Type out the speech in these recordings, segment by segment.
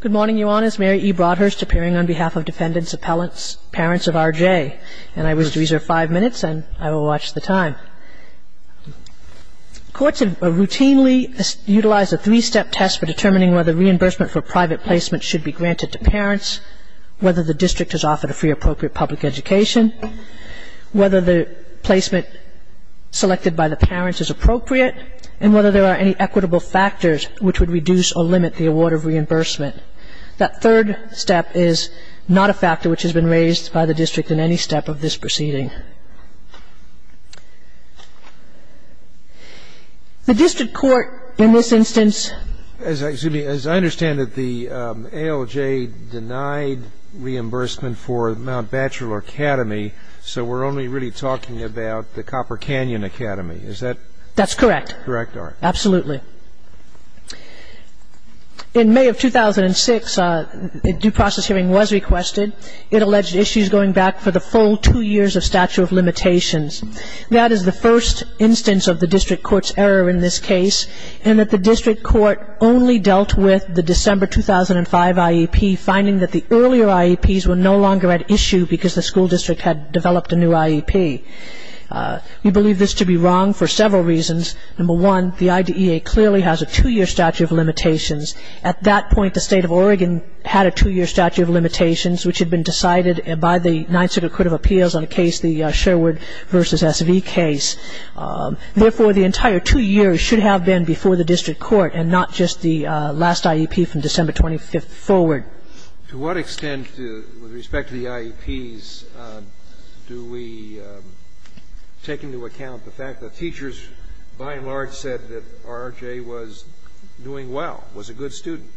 Good morning, Your Honors. Mary E. Broadhurst appearing on behalf of defendants, appellants, parents of R.J. And I wish to reserve five minutes and I will watch the time. Courts have routinely utilized a three-step test for determining whether reimbursement for private placement should be granted to parents, whether the district is offered a free or appropriate public education, whether the placement selected by the parents is appropriate, and whether there are any equitable factors which would reduce or limit the award of reimbursement. That third step is not a factor which has been raised by the district in any step of this proceeding. The district court in this instance- As I understand it, the ALJ denied reimbursement for Mount Batchelor Academy, so we're only really talking about the Copper Canyon Academy, is that- That's correct. Correct, all right. Absolutely. In May of 2006, a due process hearing was requested. It alleged issues going back for the full two years of statute of limitations. That is the first instance of the district court's error in this case, in that the district court only dealt with the December 2005 IEP, finding that the earlier IEPs were no longer at issue because the school district had developed a new IEP. We believe this to be wrong for several reasons. Number one, the IDEA clearly has a two-year statute of limitations. At that point, the State of Oregon had a two-year statute of limitations, which had been decided by the Ninth Circuit Court of Appeals on a case, the Sherwood v. S.V. case. Therefore, the entire two years should have been before the district court and not just the last IEP from December 25th forward. To what extent, with respect to the IEPs, do we take into account the fact that teachers by and large said that R.J. was doing well, was a good student?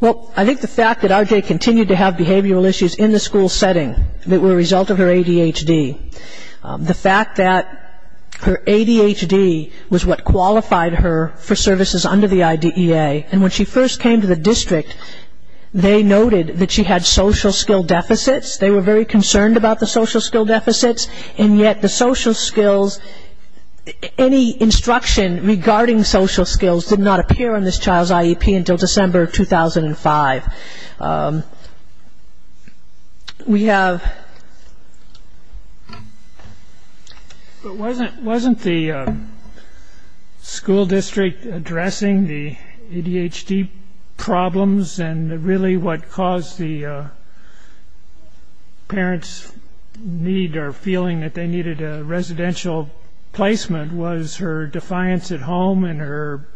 Well, I think the fact that R.J. continued to have behavioral issues in the school setting that were a result of her ADHD, the fact that her ADHD was what qualified her for services under the IDEA, and when she first came to the district, they noted that she had social skill deficits. They were very concerned about the social skill deficits, and yet the social skills, any instruction regarding social skills did not appear on this child's IEP until December 2005. We have ---- But wasn't the school district addressing the ADHD problems, and really what caused the parents' need or feeling that they needed a residential placement was her defiance at home and her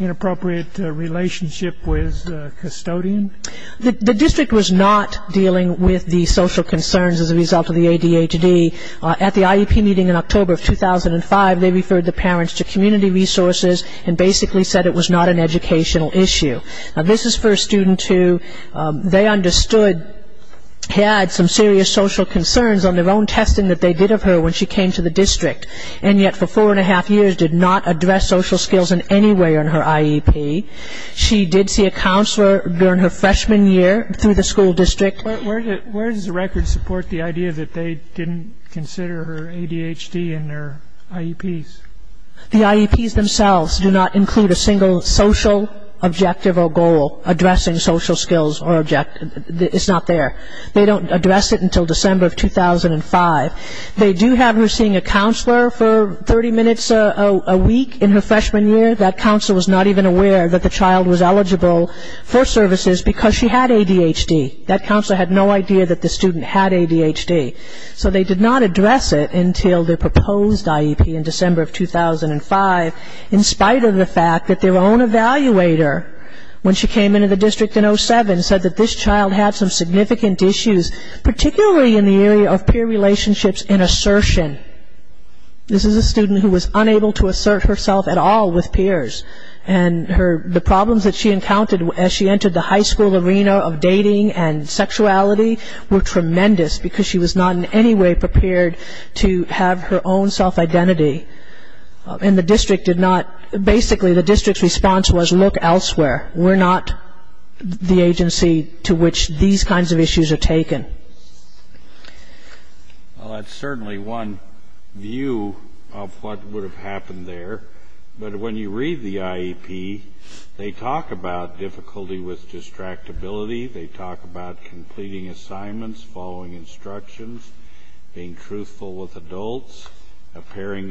inappropriate relationship with a custodian? The district was not dealing with the social concerns as a result of the ADHD. At the IEP meeting in October of 2005, they referred the parents to community resources and basically said it was not an educational issue. This is for a student who they understood had some serious social concerns on their own testing that they did of her when she came to the district, and yet for four and a half years did not address social skills in any way on her IEP. She did see a counselor during her freshman year through the school district. Where does the record support the idea that they didn't consider her ADHD in their IEPs? The IEPs themselves do not include a single social objective or goal addressing social skills. It's not there. They don't address it until December of 2005. They do have her seeing a counselor for 30 minutes a week in her freshman year. That counselor was not even aware that the child was eligible for services because she had ADHD. That counselor had no idea that the student had ADHD. So they did not address it until their proposed IEP in December of 2005, in spite of the fact that their own evaluator, when she came into the district in 2007, said that this child had some significant issues, particularly in the area of peer relationships and assertion. This is a student who was unable to assert herself at all with peers, and the problems that she encountered as she entered the high school arena of dating and sexuality were tremendous because she was not in any way prepared to have her own self-identity. And the district did not, basically the district's response was, look elsewhere. We're not the agency to which these kinds of issues are taken. Well, that's certainly one view of what would have happened there. But when you read the IEP, they talk about difficulty with distractibility. They talk about completing assignments, following instructions, being truthful with adults, impairing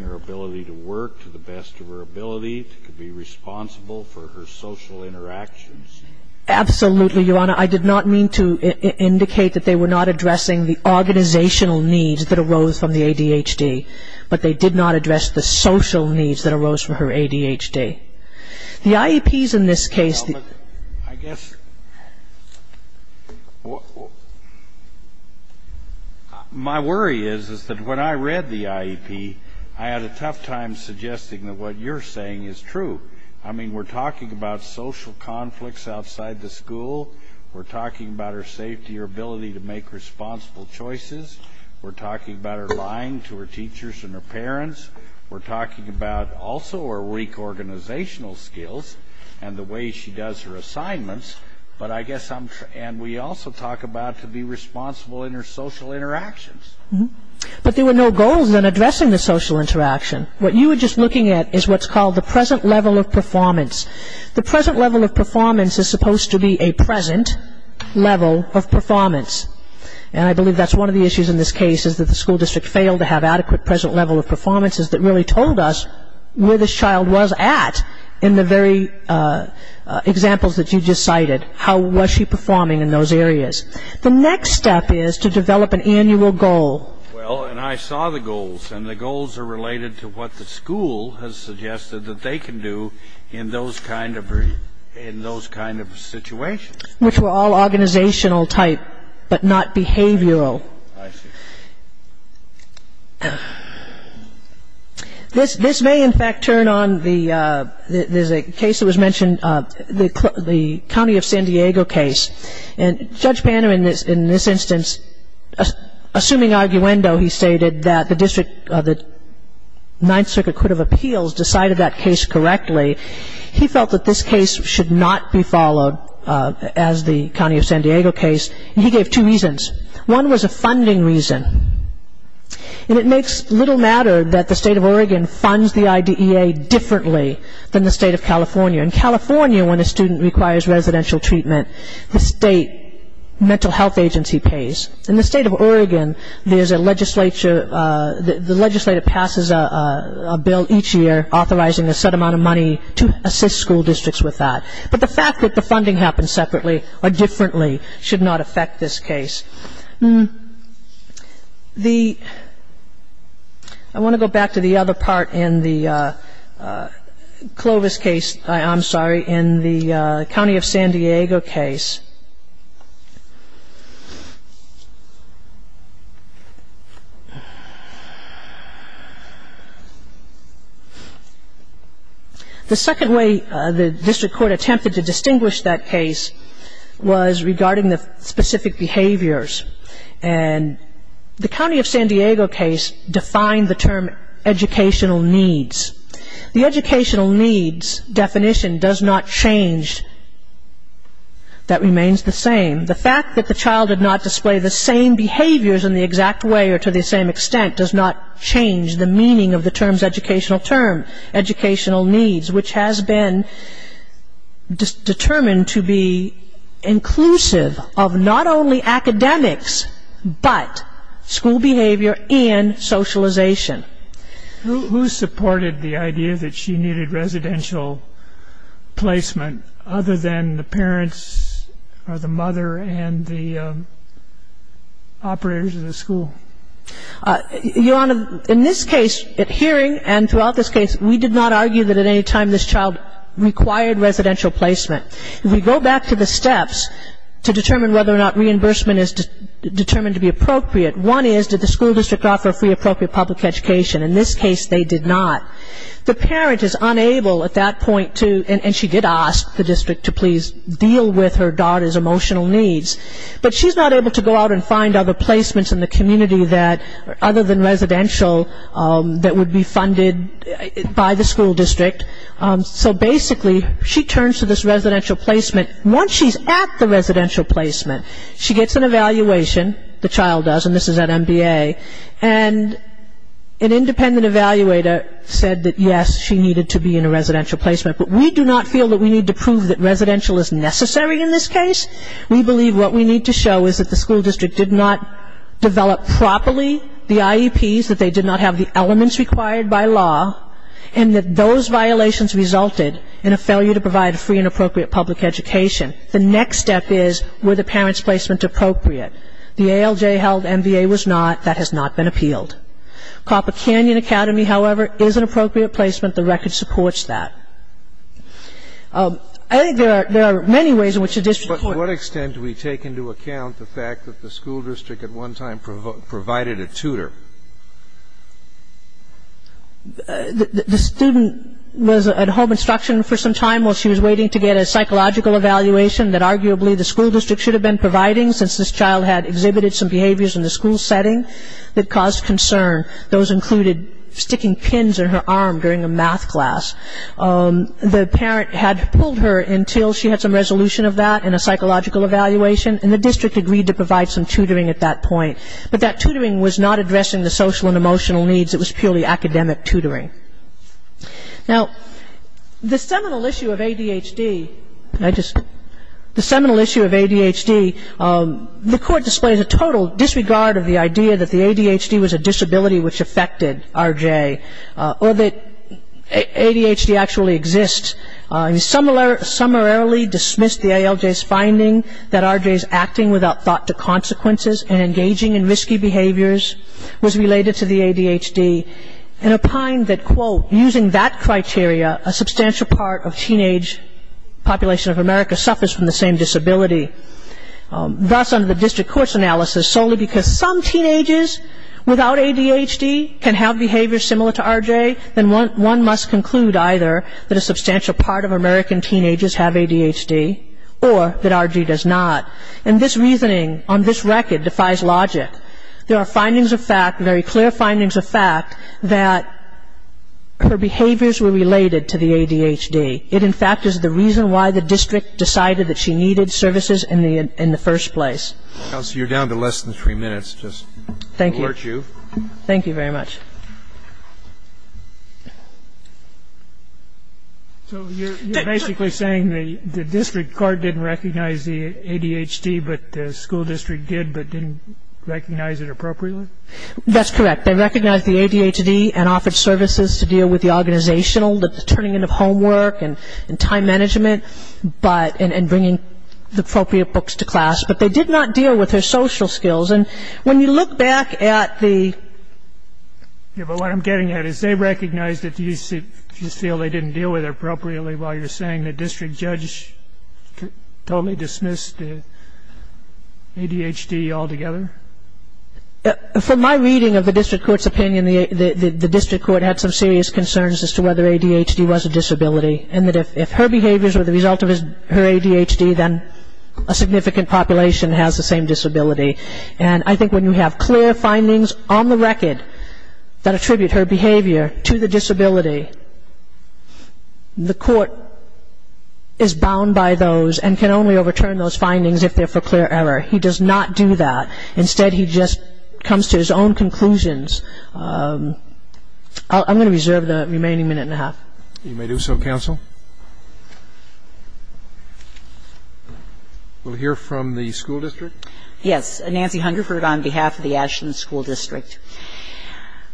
her ability to work to the best of her ability to be responsible for her social interactions. Absolutely, Your Honor. I did not mean to indicate that they were not addressing the organizational needs that arose from the ADHD, but they did not address the social needs that arose from her ADHD. The IEPs in this case... Well, I guess my worry is that when I read the IEP, I had a tough time suggesting that what you're saying is true. I mean, we're talking about social conflicts outside the school. We're talking about her safety, her ability to make responsible choices. We're talking about her lying to her teachers and her parents. We're talking about also her weak organizational skills and the way she does her assignments. But I guess I'm... And we also talk about to be responsible in her social interactions. But there were no goals in addressing the social interaction. What you were just looking at is what's called the present level of performance. The present level of performance is supposed to be a present level of performance. And I believe that's one of the issues in this case, is that the school district failed to have adequate present level of performances that really told us where this child was at in the very examples that you just cited, how was she performing in those areas. The next step is to develop an annual goal. Well, and I saw the goals, and the goals are related to what the school has suggested that they can do in those kind of situations. Which were all organizational type, but not behavioral. I see. This may, in fact, turn on the... There's a case that was mentioned, the County of San Diego case. And Judge Banner, in this instance, assuming arguendo, he stated that the district, the Ninth Circuit Court of Appeals, decided that case correctly. He felt that this case should not be followed as the County of San Diego case. And he gave two reasons. One was a funding reason. And it makes little matter that the state of Oregon funds the IDEA differently than the state of California. In California, when a student requires residential treatment, the state mental health agency pays. In the state of Oregon, there's a legislature... The legislature passes a bill each year authorizing a set amount of money to assist school districts with that. But the fact that the funding happens separately or differently should not affect this case. The... I want to go back to the other part in the Clovis case. I'm sorry, in the County of San Diego case. The second way the district court attempted to distinguish that case was regarding the specific behaviors. And the County of San Diego case defined the term educational needs. The educational needs definition does not change. That remains the same. The fact that the child did not display the same behaviors in the exact way or to the same extent does not change the meaning of the term's educational term, educational needs, which has been determined to be inclusive of not only academics, but school behavior and socialization. Who supported the idea that she needed residential placement other than the parents or the mother and the operators of the school? Your Honor, in this case, at hearing and throughout this case, we did not argue that at any time this child required residential placement. If we go back to the steps to determine whether or not reimbursement is determined to be appropriate, one is did the school district offer free appropriate public education? In this case, they did not. The parent is unable at that point to, and she did ask the district to please deal with her daughter's emotional needs, but she's not able to go out and find other placements in the community that, other than residential, that would be funded by the school district. So basically, she turns to this residential placement. Once she's at the residential placement, she gets an evaluation, the child does, and this is at MBA, and an independent evaluator said that, yes, she needed to be in a residential placement, but we do not feel that we need to prove that residential is necessary in this case. We believe what we need to show is that the school district did not develop properly the IEPs, that they did not have the elements required by law, and that those violations resulted in a failure to provide a free and appropriate public education. The next step is, were the parents' placement appropriate? The ALJ held MBA was not. That has not been appealed. Copper Canyon Academy, however, is an appropriate placement. The record supports that. I think there are many ways in which a district court can do that. The student was at home instruction for some time while she was waiting to get a psychological evaluation that arguably the school district should have been providing since this child had exhibited some behaviors in the school setting that caused concern. Those included sticking pins in her arm during a math class. The parent had pulled her until she had some resolution of that in a psychological evaluation, and the district agreed to provide some tutoring at that point. But that tutoring was not addressing the social and emotional needs. It was purely academic tutoring. Now, the seminal issue of ADHD, the court displays a total disregard of the idea that the ADHD was a disability which affected RJ or that ADHD actually exists. It summarily dismissed the ALJ's finding that RJ is acting without thought to consequences and engaging in risky behaviors was related to the ADHD and opined that, quote, using that criteria, a substantial part of teenage population of America suffers from the same disability. Thus, under the district court's analysis, solely because some teenagers without ADHD can have behaviors similar to RJ, then one must conclude either that a substantial part of American teenagers have ADHD or that RJ does not. And this reasoning on this record defies logic. There are findings of fact, very clear findings of fact, that her behaviors were related to the ADHD. It, in fact, is the reason why the district decided that she needed services in the first place. Counsel, you're down to less than three minutes. Just to alert you. Thank you. Thank you very much. So you're basically saying the district court didn't recognize the ADHD, but the school district did but didn't recognize it appropriately? That's correct. They recognized the ADHD and offered services to deal with the organizational, the turning in of homework and time management and bringing the appropriate books to class. But they did not deal with her social skills. And when you look back at the- Yeah, but what I'm getting at is they recognized it. Do you feel they didn't deal with it appropriately while you're saying the district judge totally dismissed ADHD altogether? From my reading of the district court's opinion, the district court had some serious concerns as to whether ADHD was a disability and that if her behaviors were the result of her ADHD, then a significant population has the same disability. And I think when you have clear findings on the record that attribute her behavior to the disability, the court is bound by those and can only overturn those findings if they're for clear error. He does not do that. Instead, he just comes to his own conclusions. I'm going to reserve the remaining minute and a half. You may do so, counsel. We'll hear from the school district. Yes. Nancy Hungerford on behalf of the Ashland School District.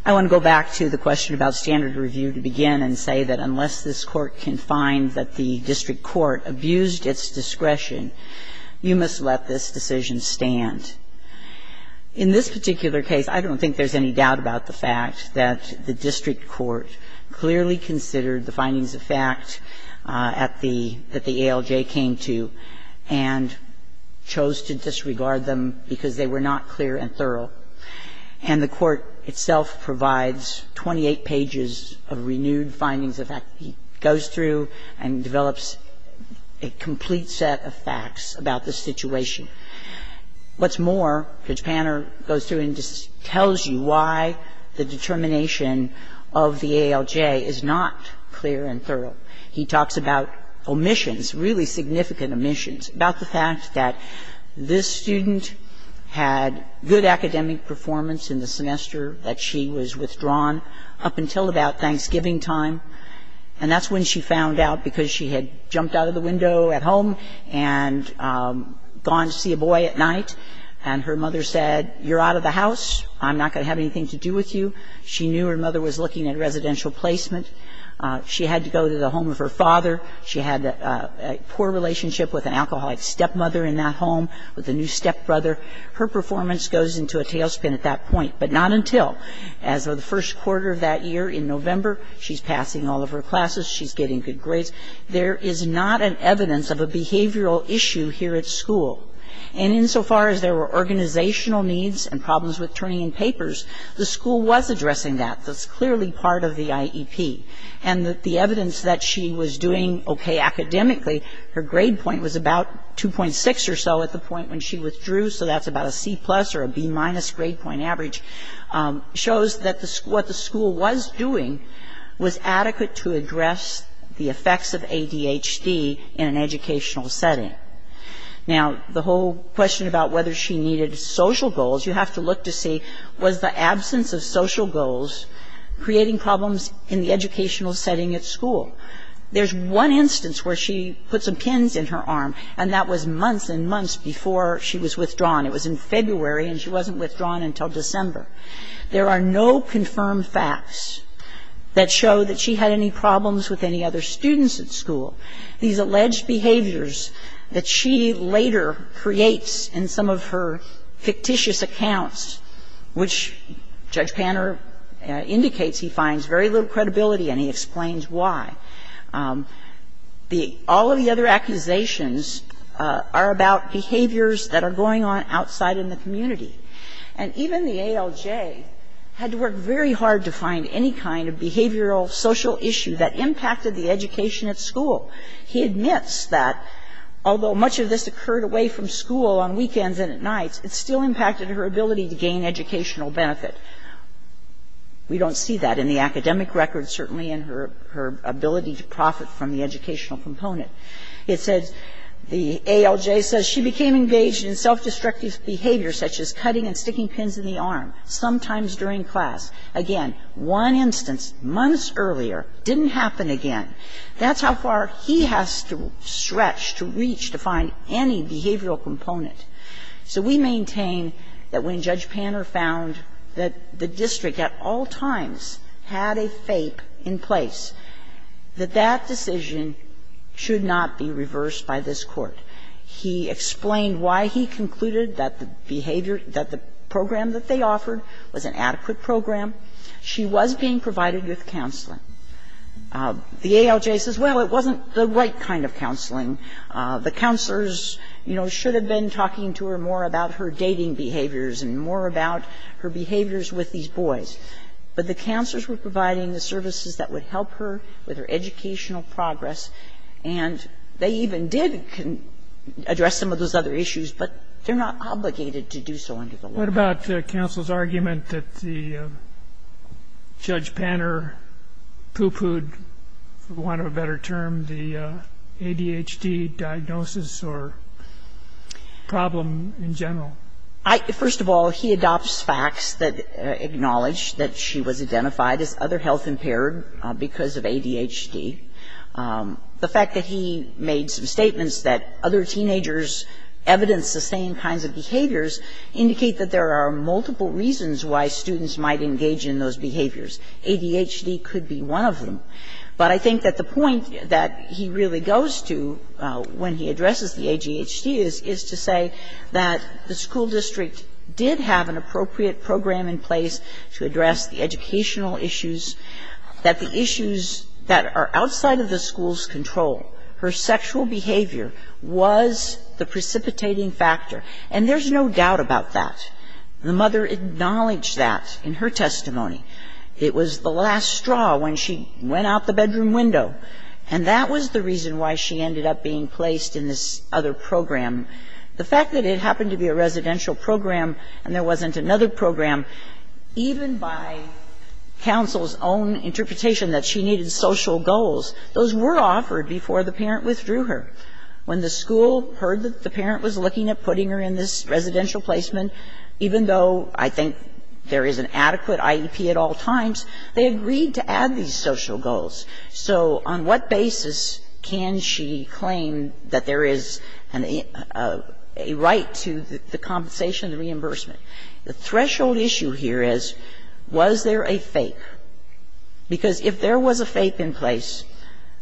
I want to go back to the question about standard review to begin and say that unless this Court can find that the district court abused its discretion, you must let this decision stand. In this particular case, I don't think there's any doubt about the fact that the district court clearly considered the findings of fact that the ALJ came to and chose to disregard them because they were not clear and thorough. And the court itself provides 28 pages of renewed findings. In fact, it goes through and develops a complete set of facts about the situation. What's more, Judge Panner goes through and just tells you why the determination of the ALJ is not clear and thorough. He talks about omissions, really significant omissions, about the fact that this student had good academic performance in the semester that she was withdrawn up until about Thanksgiving time, and that's when she found out because she had jumped out of the window at home and gone to see a boy at night. And her mother said, you're out of the house. I'm not going to have anything to do with you. She knew her mother was looking at residential placement. She had to go to the home of her father. She had a poor relationship with an alcoholic stepmother in that home, with a new stepbrother. Her performance goes into a tailspin at that point, but not until as of the first quarter of that year in November. She's passing all of her classes. She's getting good grades. There is not an evidence of a behavioral issue here at school. And insofar as there were organizational needs and problems with turning in papers, the school was addressing that. That's clearly part of the IEP. And the evidence that she was doing okay academically, her grade point was about 2.6 or so at the point when she withdrew, so that's about a C plus or a B minus grade point average, shows that what the school was doing was adequate to address the effects of ADHD in an educational setting. Now, the whole question about whether she needed social goals, you have to look to see, was the absence of social goals creating problems in the educational setting at school. There's one instance where she put some pins in her arm, and that was months and months before she was withdrawn. It was in February, and she wasn't withdrawn until December. There are no confirmed facts that show that she had any problems with any other students at school. These alleged behaviors that she later creates in some of her fictitious accounts, which Judge Panner indicates he finds very little credibility and he explains why. All of the other accusations are about behaviors that are going on outside in the community. And even the ALJ had to work very hard to find any kind of behavioral social issue that impacted the education at school. He admits that, although much of this occurred away from school on weekends and at nights, it still impacted her ability to gain educational benefit. We don't see that in the academic records, certainly in her ability to profit from the educational component. It says, the ALJ says she became engaged in self-destructive behaviors such as cutting and sticking pins in the arm, sometimes during class. Again, one instance, months earlier, didn't happen again. That's how far he has to stretch, to reach, to find any behavioral component. So we maintain that when Judge Panner found that the district at all times had a fape in place, that that decision should not be reversed by this Court. He explained why he concluded that the behavior, that the program that they offered was an adequate program. She was being provided with counseling. The ALJ says, well, it wasn't the right kind of counseling. The counselors, you know, should have been talking to her more about her dating behaviors and more about her behaviors with these boys. But the counselors were providing the services that would help her with her educational progress, and they even did address some of those other issues, but they're not obligated to do so under the law. What about counsel's argument that the Judge Panner poo-pooed, for want of a better word, that she was identified as other health-impaired because of ADHD? First of all, he adopts facts that acknowledge that she was identified as other health-impaired because of ADHD. The fact that he made some statements that other teenagers evidence the same kinds of behaviors indicate that there are multiple reasons why students might engage in those behaviors. ADHD could be one of them. But I think that the point that he really goes to when he addresses the ADHD is, is to say that the school district did have an appropriate program in place to address the educational issues, that the issues that are outside of the school's control, her sexual behavior was the precipitating factor, and there's no doubt about that. The mother acknowledged that in her testimony. It was the last straw when she went out the bedroom window. And that was the reason why she ended up being placed in this other program. The fact that it happened to be a residential program and there wasn't another program, even by counsel's own interpretation that she needed social goals, those were offered before the parent withdrew her. When the school heard that the parent was looking at putting her in this residential placement, even though I think there is an adequate IEP at all times, they agreed to add these social goals. So on what basis can she claim that there is a right to the compensation of the reimbursement? The threshold issue here is, was there a fake? Because if there was a fake in place,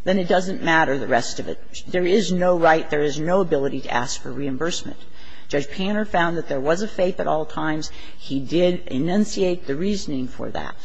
then it doesn't matter, the rest of it. There is no right, there is no ability to ask for reimbursement. Judge Panner found that there was a fake at all times. He did enunciate the reasoning for that.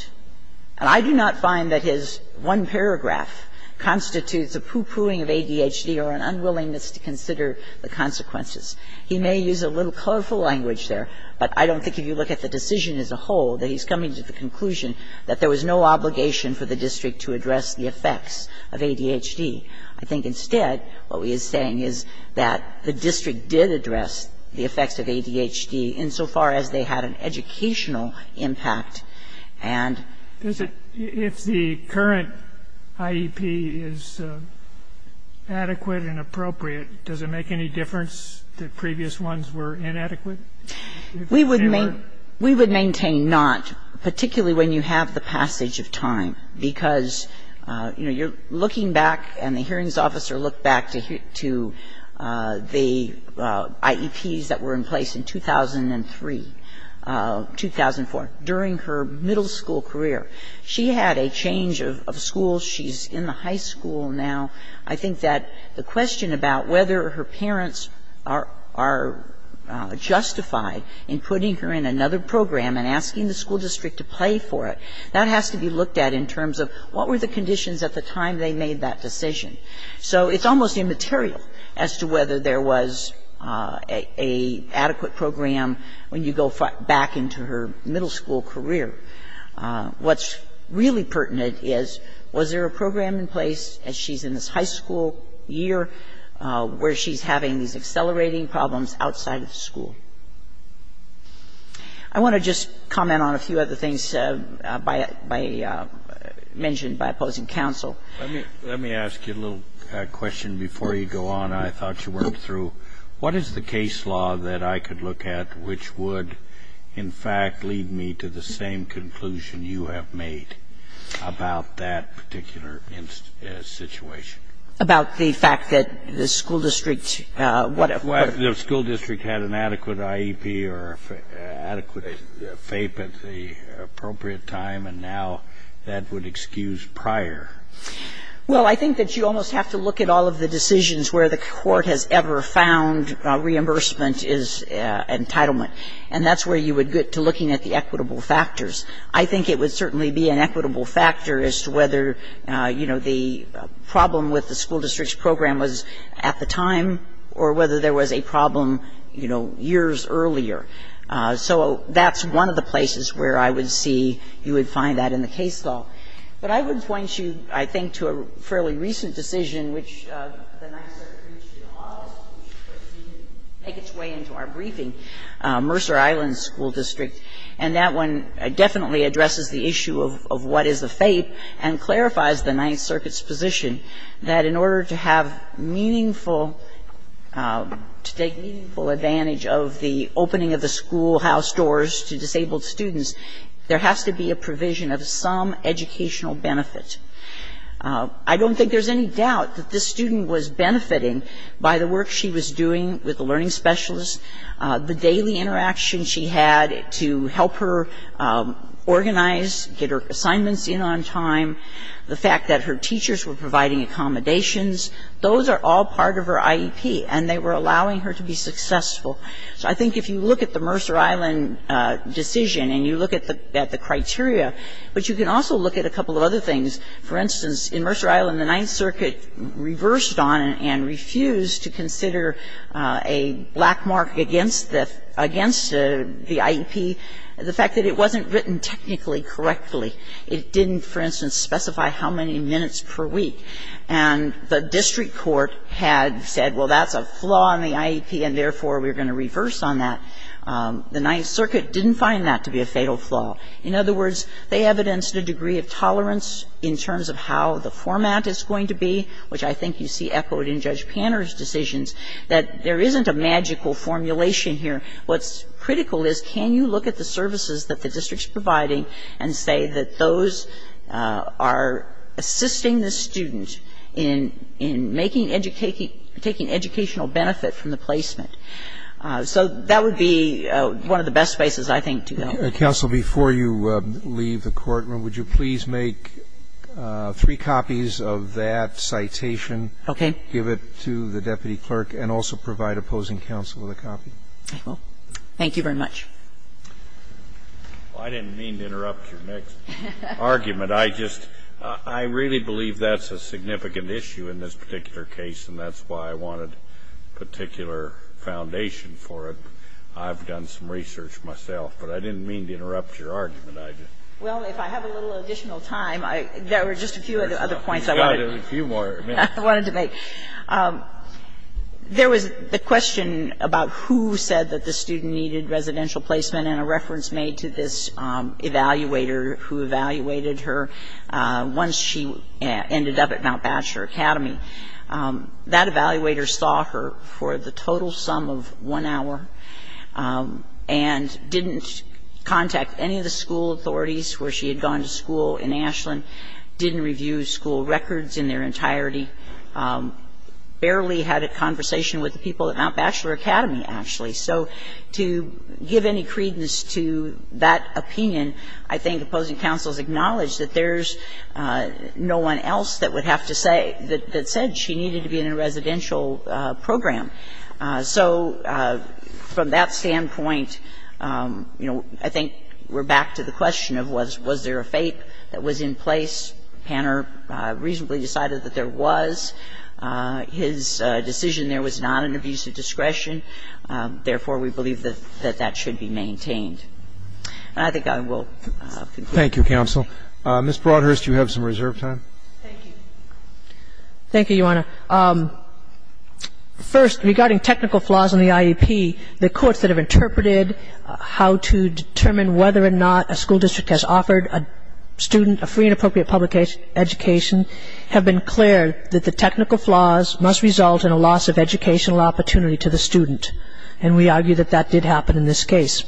And I do not find that his one paragraph constitutes a poo-pooing of ADHD or an unwillingness to consider the consequences. He may use a little colorful language there, but I don't think if you look at the decision as a whole that he's coming to the conclusion that there was no obligation for the district to address the effects of ADHD. I think instead what he is saying is that the district did address the effects of ADHD insofar as they had an educational impact and they were able to do that. If the current IEP is adequate and appropriate, does it make any difference that previous ones were inadequate? We would maintain not, particularly when you have the passage of time, because you're looking back and the hearings officer looked back to the IEPs that were in place in 2003, 2004, during her middle school career. She had a change of school. She's in the high school now. I think that the question about whether her parents are justified in putting her in another program and asking the school district to pay for it, that has to be looked at in terms of what were the conditions at the time they made that decision. So it's almost immaterial as to whether there was a adequate program when you go back into her middle school career. What's really pertinent is, was there a program in place as she's in this high school year where she's having these accelerating problems outside of the school? I want to just comment on a few other things mentioned by opposing counsel. Let me ask you a little question before you go on. I thought you worked through. What is the case law that I could look at which would, in fact, lead me to the same conclusion you have made about that particular situation? About the fact that the school district, what if the school district had an adequate IEP or adequate FAPE at the appropriate time, and now that would excuse prior? Well, I think that you almost have to look at all of the decisions where the court has ever found reimbursement is entitlement. And that's where you would get to looking at the equitable factors. I think it would certainly be an equitable factor as to whether, you know, the problem with the school district's program was at the time or whether there was a problem, you know, years earlier. So that's one of the places where I would see you would find that in the case law. But I would point you, I think, to a fairly recent decision which the Ninth Circuit reached in August, which didn't make its way into our briefing, Mercer Island School District. And that one definitely addresses the issue of what is the FAPE and clarifies the Ninth Circuit's position that in order to have meaningful, to take meaningful advantage of the opening of the schoolhouse doors to disabled students, there has to be a provision of some educational benefit. I don't think there's any doubt that this student was benefiting by the work she was doing with the learning specialist, the daily interaction she had to help her organize, get her assignments in on time. The fact that her teachers were providing accommodations, those are all part of her IEP, and they were allowing her to be successful. So I think if you look at the Mercer Island decision and you look at the criteria, but you can also look at a couple of other things. For instance, in Mercer Island, the Ninth Circuit reversed on and refused to consider a black mark against the IEP, the fact that it wasn't written technically correctly. It didn't, for instance, specify how many minutes per week. And the district court had said, well, that's a flaw in the IEP, and therefore, we're going to reverse on that. The Ninth Circuit didn't find that to be a fatal flaw. In other words, they evidenced a degree of tolerance in terms of how the format is going to be, which I think you see echoed in Judge Panner's decisions, that there isn't a magical formulation here. What's critical is can you look at the services that the district's providing and say that those are assisting the student in making education, taking educational benefit from the placement. So that would be one of the best places, I think, to go. Roberts. Roberts. Counsel, before you leave the courtroom, would you please make three copies of that citation? Okay. Give it to the deputy clerk and also provide opposing counsel with a copy. Thank you very much. Well, I didn't mean to interrupt your next argument. I just really believe that's a significant issue in this particular case, and that's why I wanted a particular foundation for it. I've done some research myself, but I didn't mean to interrupt your argument. Well, if I have a little additional time, there were just a few other points I wanted to make. You've got a few more minutes. There was the question about who said that the student needed residential placement and a reference made to this evaluator who evaluated her once she ended up at Mount Bachelor Academy. That evaluator saw her for the total sum of one hour and didn't contact any of the school authorities where she had gone to school in Ashland, didn't review school records in their entirety, barely had a conversation with the people at Mount Bachelor Academy, actually. So to give any credence to that opinion, I think opposing counsel has acknowledged that there's no one else that would have to say that said she needed to be in a residential program. So from that standpoint, you know, I think we're back to the question of was there a FAPE that was in place. Panner reasonably decided that there was. His decision there was not an abuse of discretion. Therefore, we believe that that should be maintained. And I think I will conclude. Thank you, counsel. Ms. Broadhurst, you have some reserve time. Thank you. Thank you, Your Honor. First, regarding technical flaws in the IEP, the courts that have interpreted how to determine whether or not a school district has offered a student a free and appropriate public education have been clear that the technical flaws must result in a loss of educational opportunity to the student. And we argue that that did happen in this case.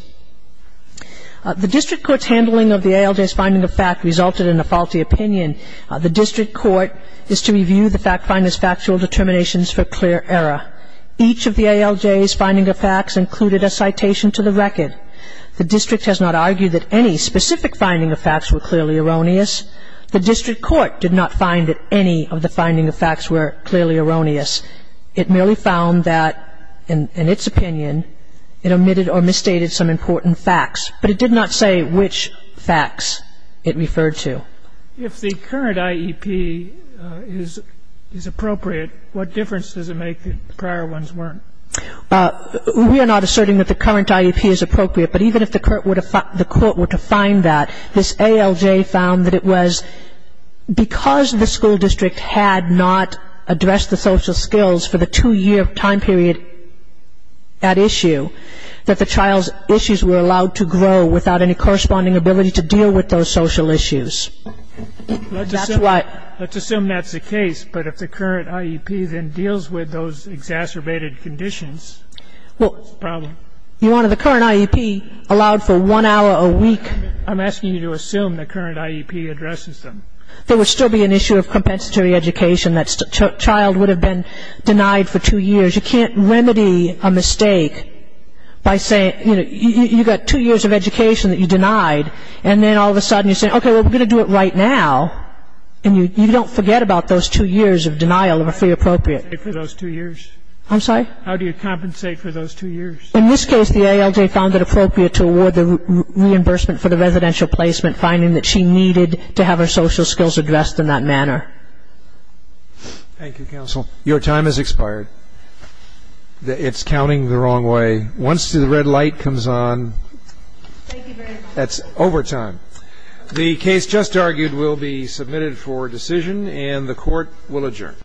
The district court's handling of the ALJ's finding of fact resulted in a faulty opinion. The district court is to review the fact finder's factual determinations for clear error. Each of the ALJ's finding of facts included a citation to the record. The district has not argued that any specific finding of facts were clearly erroneous. The district court did not find that any of the finding of facts were clearly erroneous. It merely found that, in its opinion, it omitted or misstated some important facts. But it did not say which facts it referred to. If the current IEP is appropriate, what difference does it make that the prior ones weren't? We are not asserting that the current IEP is appropriate. But even if the court were to find that, this ALJ found that it was because the school district had not addressed the social skills for the two-year time period at issue, that the child's issues were allowed to grow without any corresponding ability to deal with those social issues. Let's assume that's the case, but if the current IEP then deals with those exacerbated conditions, what's the problem? You want the current IEP allowed for one hour a week. I'm asking you to assume the current IEP addresses them. There would still be an issue of compensatory education. That child would have been denied for two years. You can't remedy a mistake by saying, you know, you've got two years of education that you denied, and then all of a sudden you say, okay, well, we're going to do it right now, and you don't forget about those two years of denial of a free appropriate. How do you compensate for those two years? I'm sorry? How do you compensate for those two years? In this case, the ALJ found it appropriate to award the reimbursement for the residential placement, finding that she needed to have her social skills addressed in that manner. Thank you, counsel. Your time has expired. It's counting the wrong way. Once the red light comes on, that's overtime. The case just argued will be submitted for decision, and the Court will adjourn.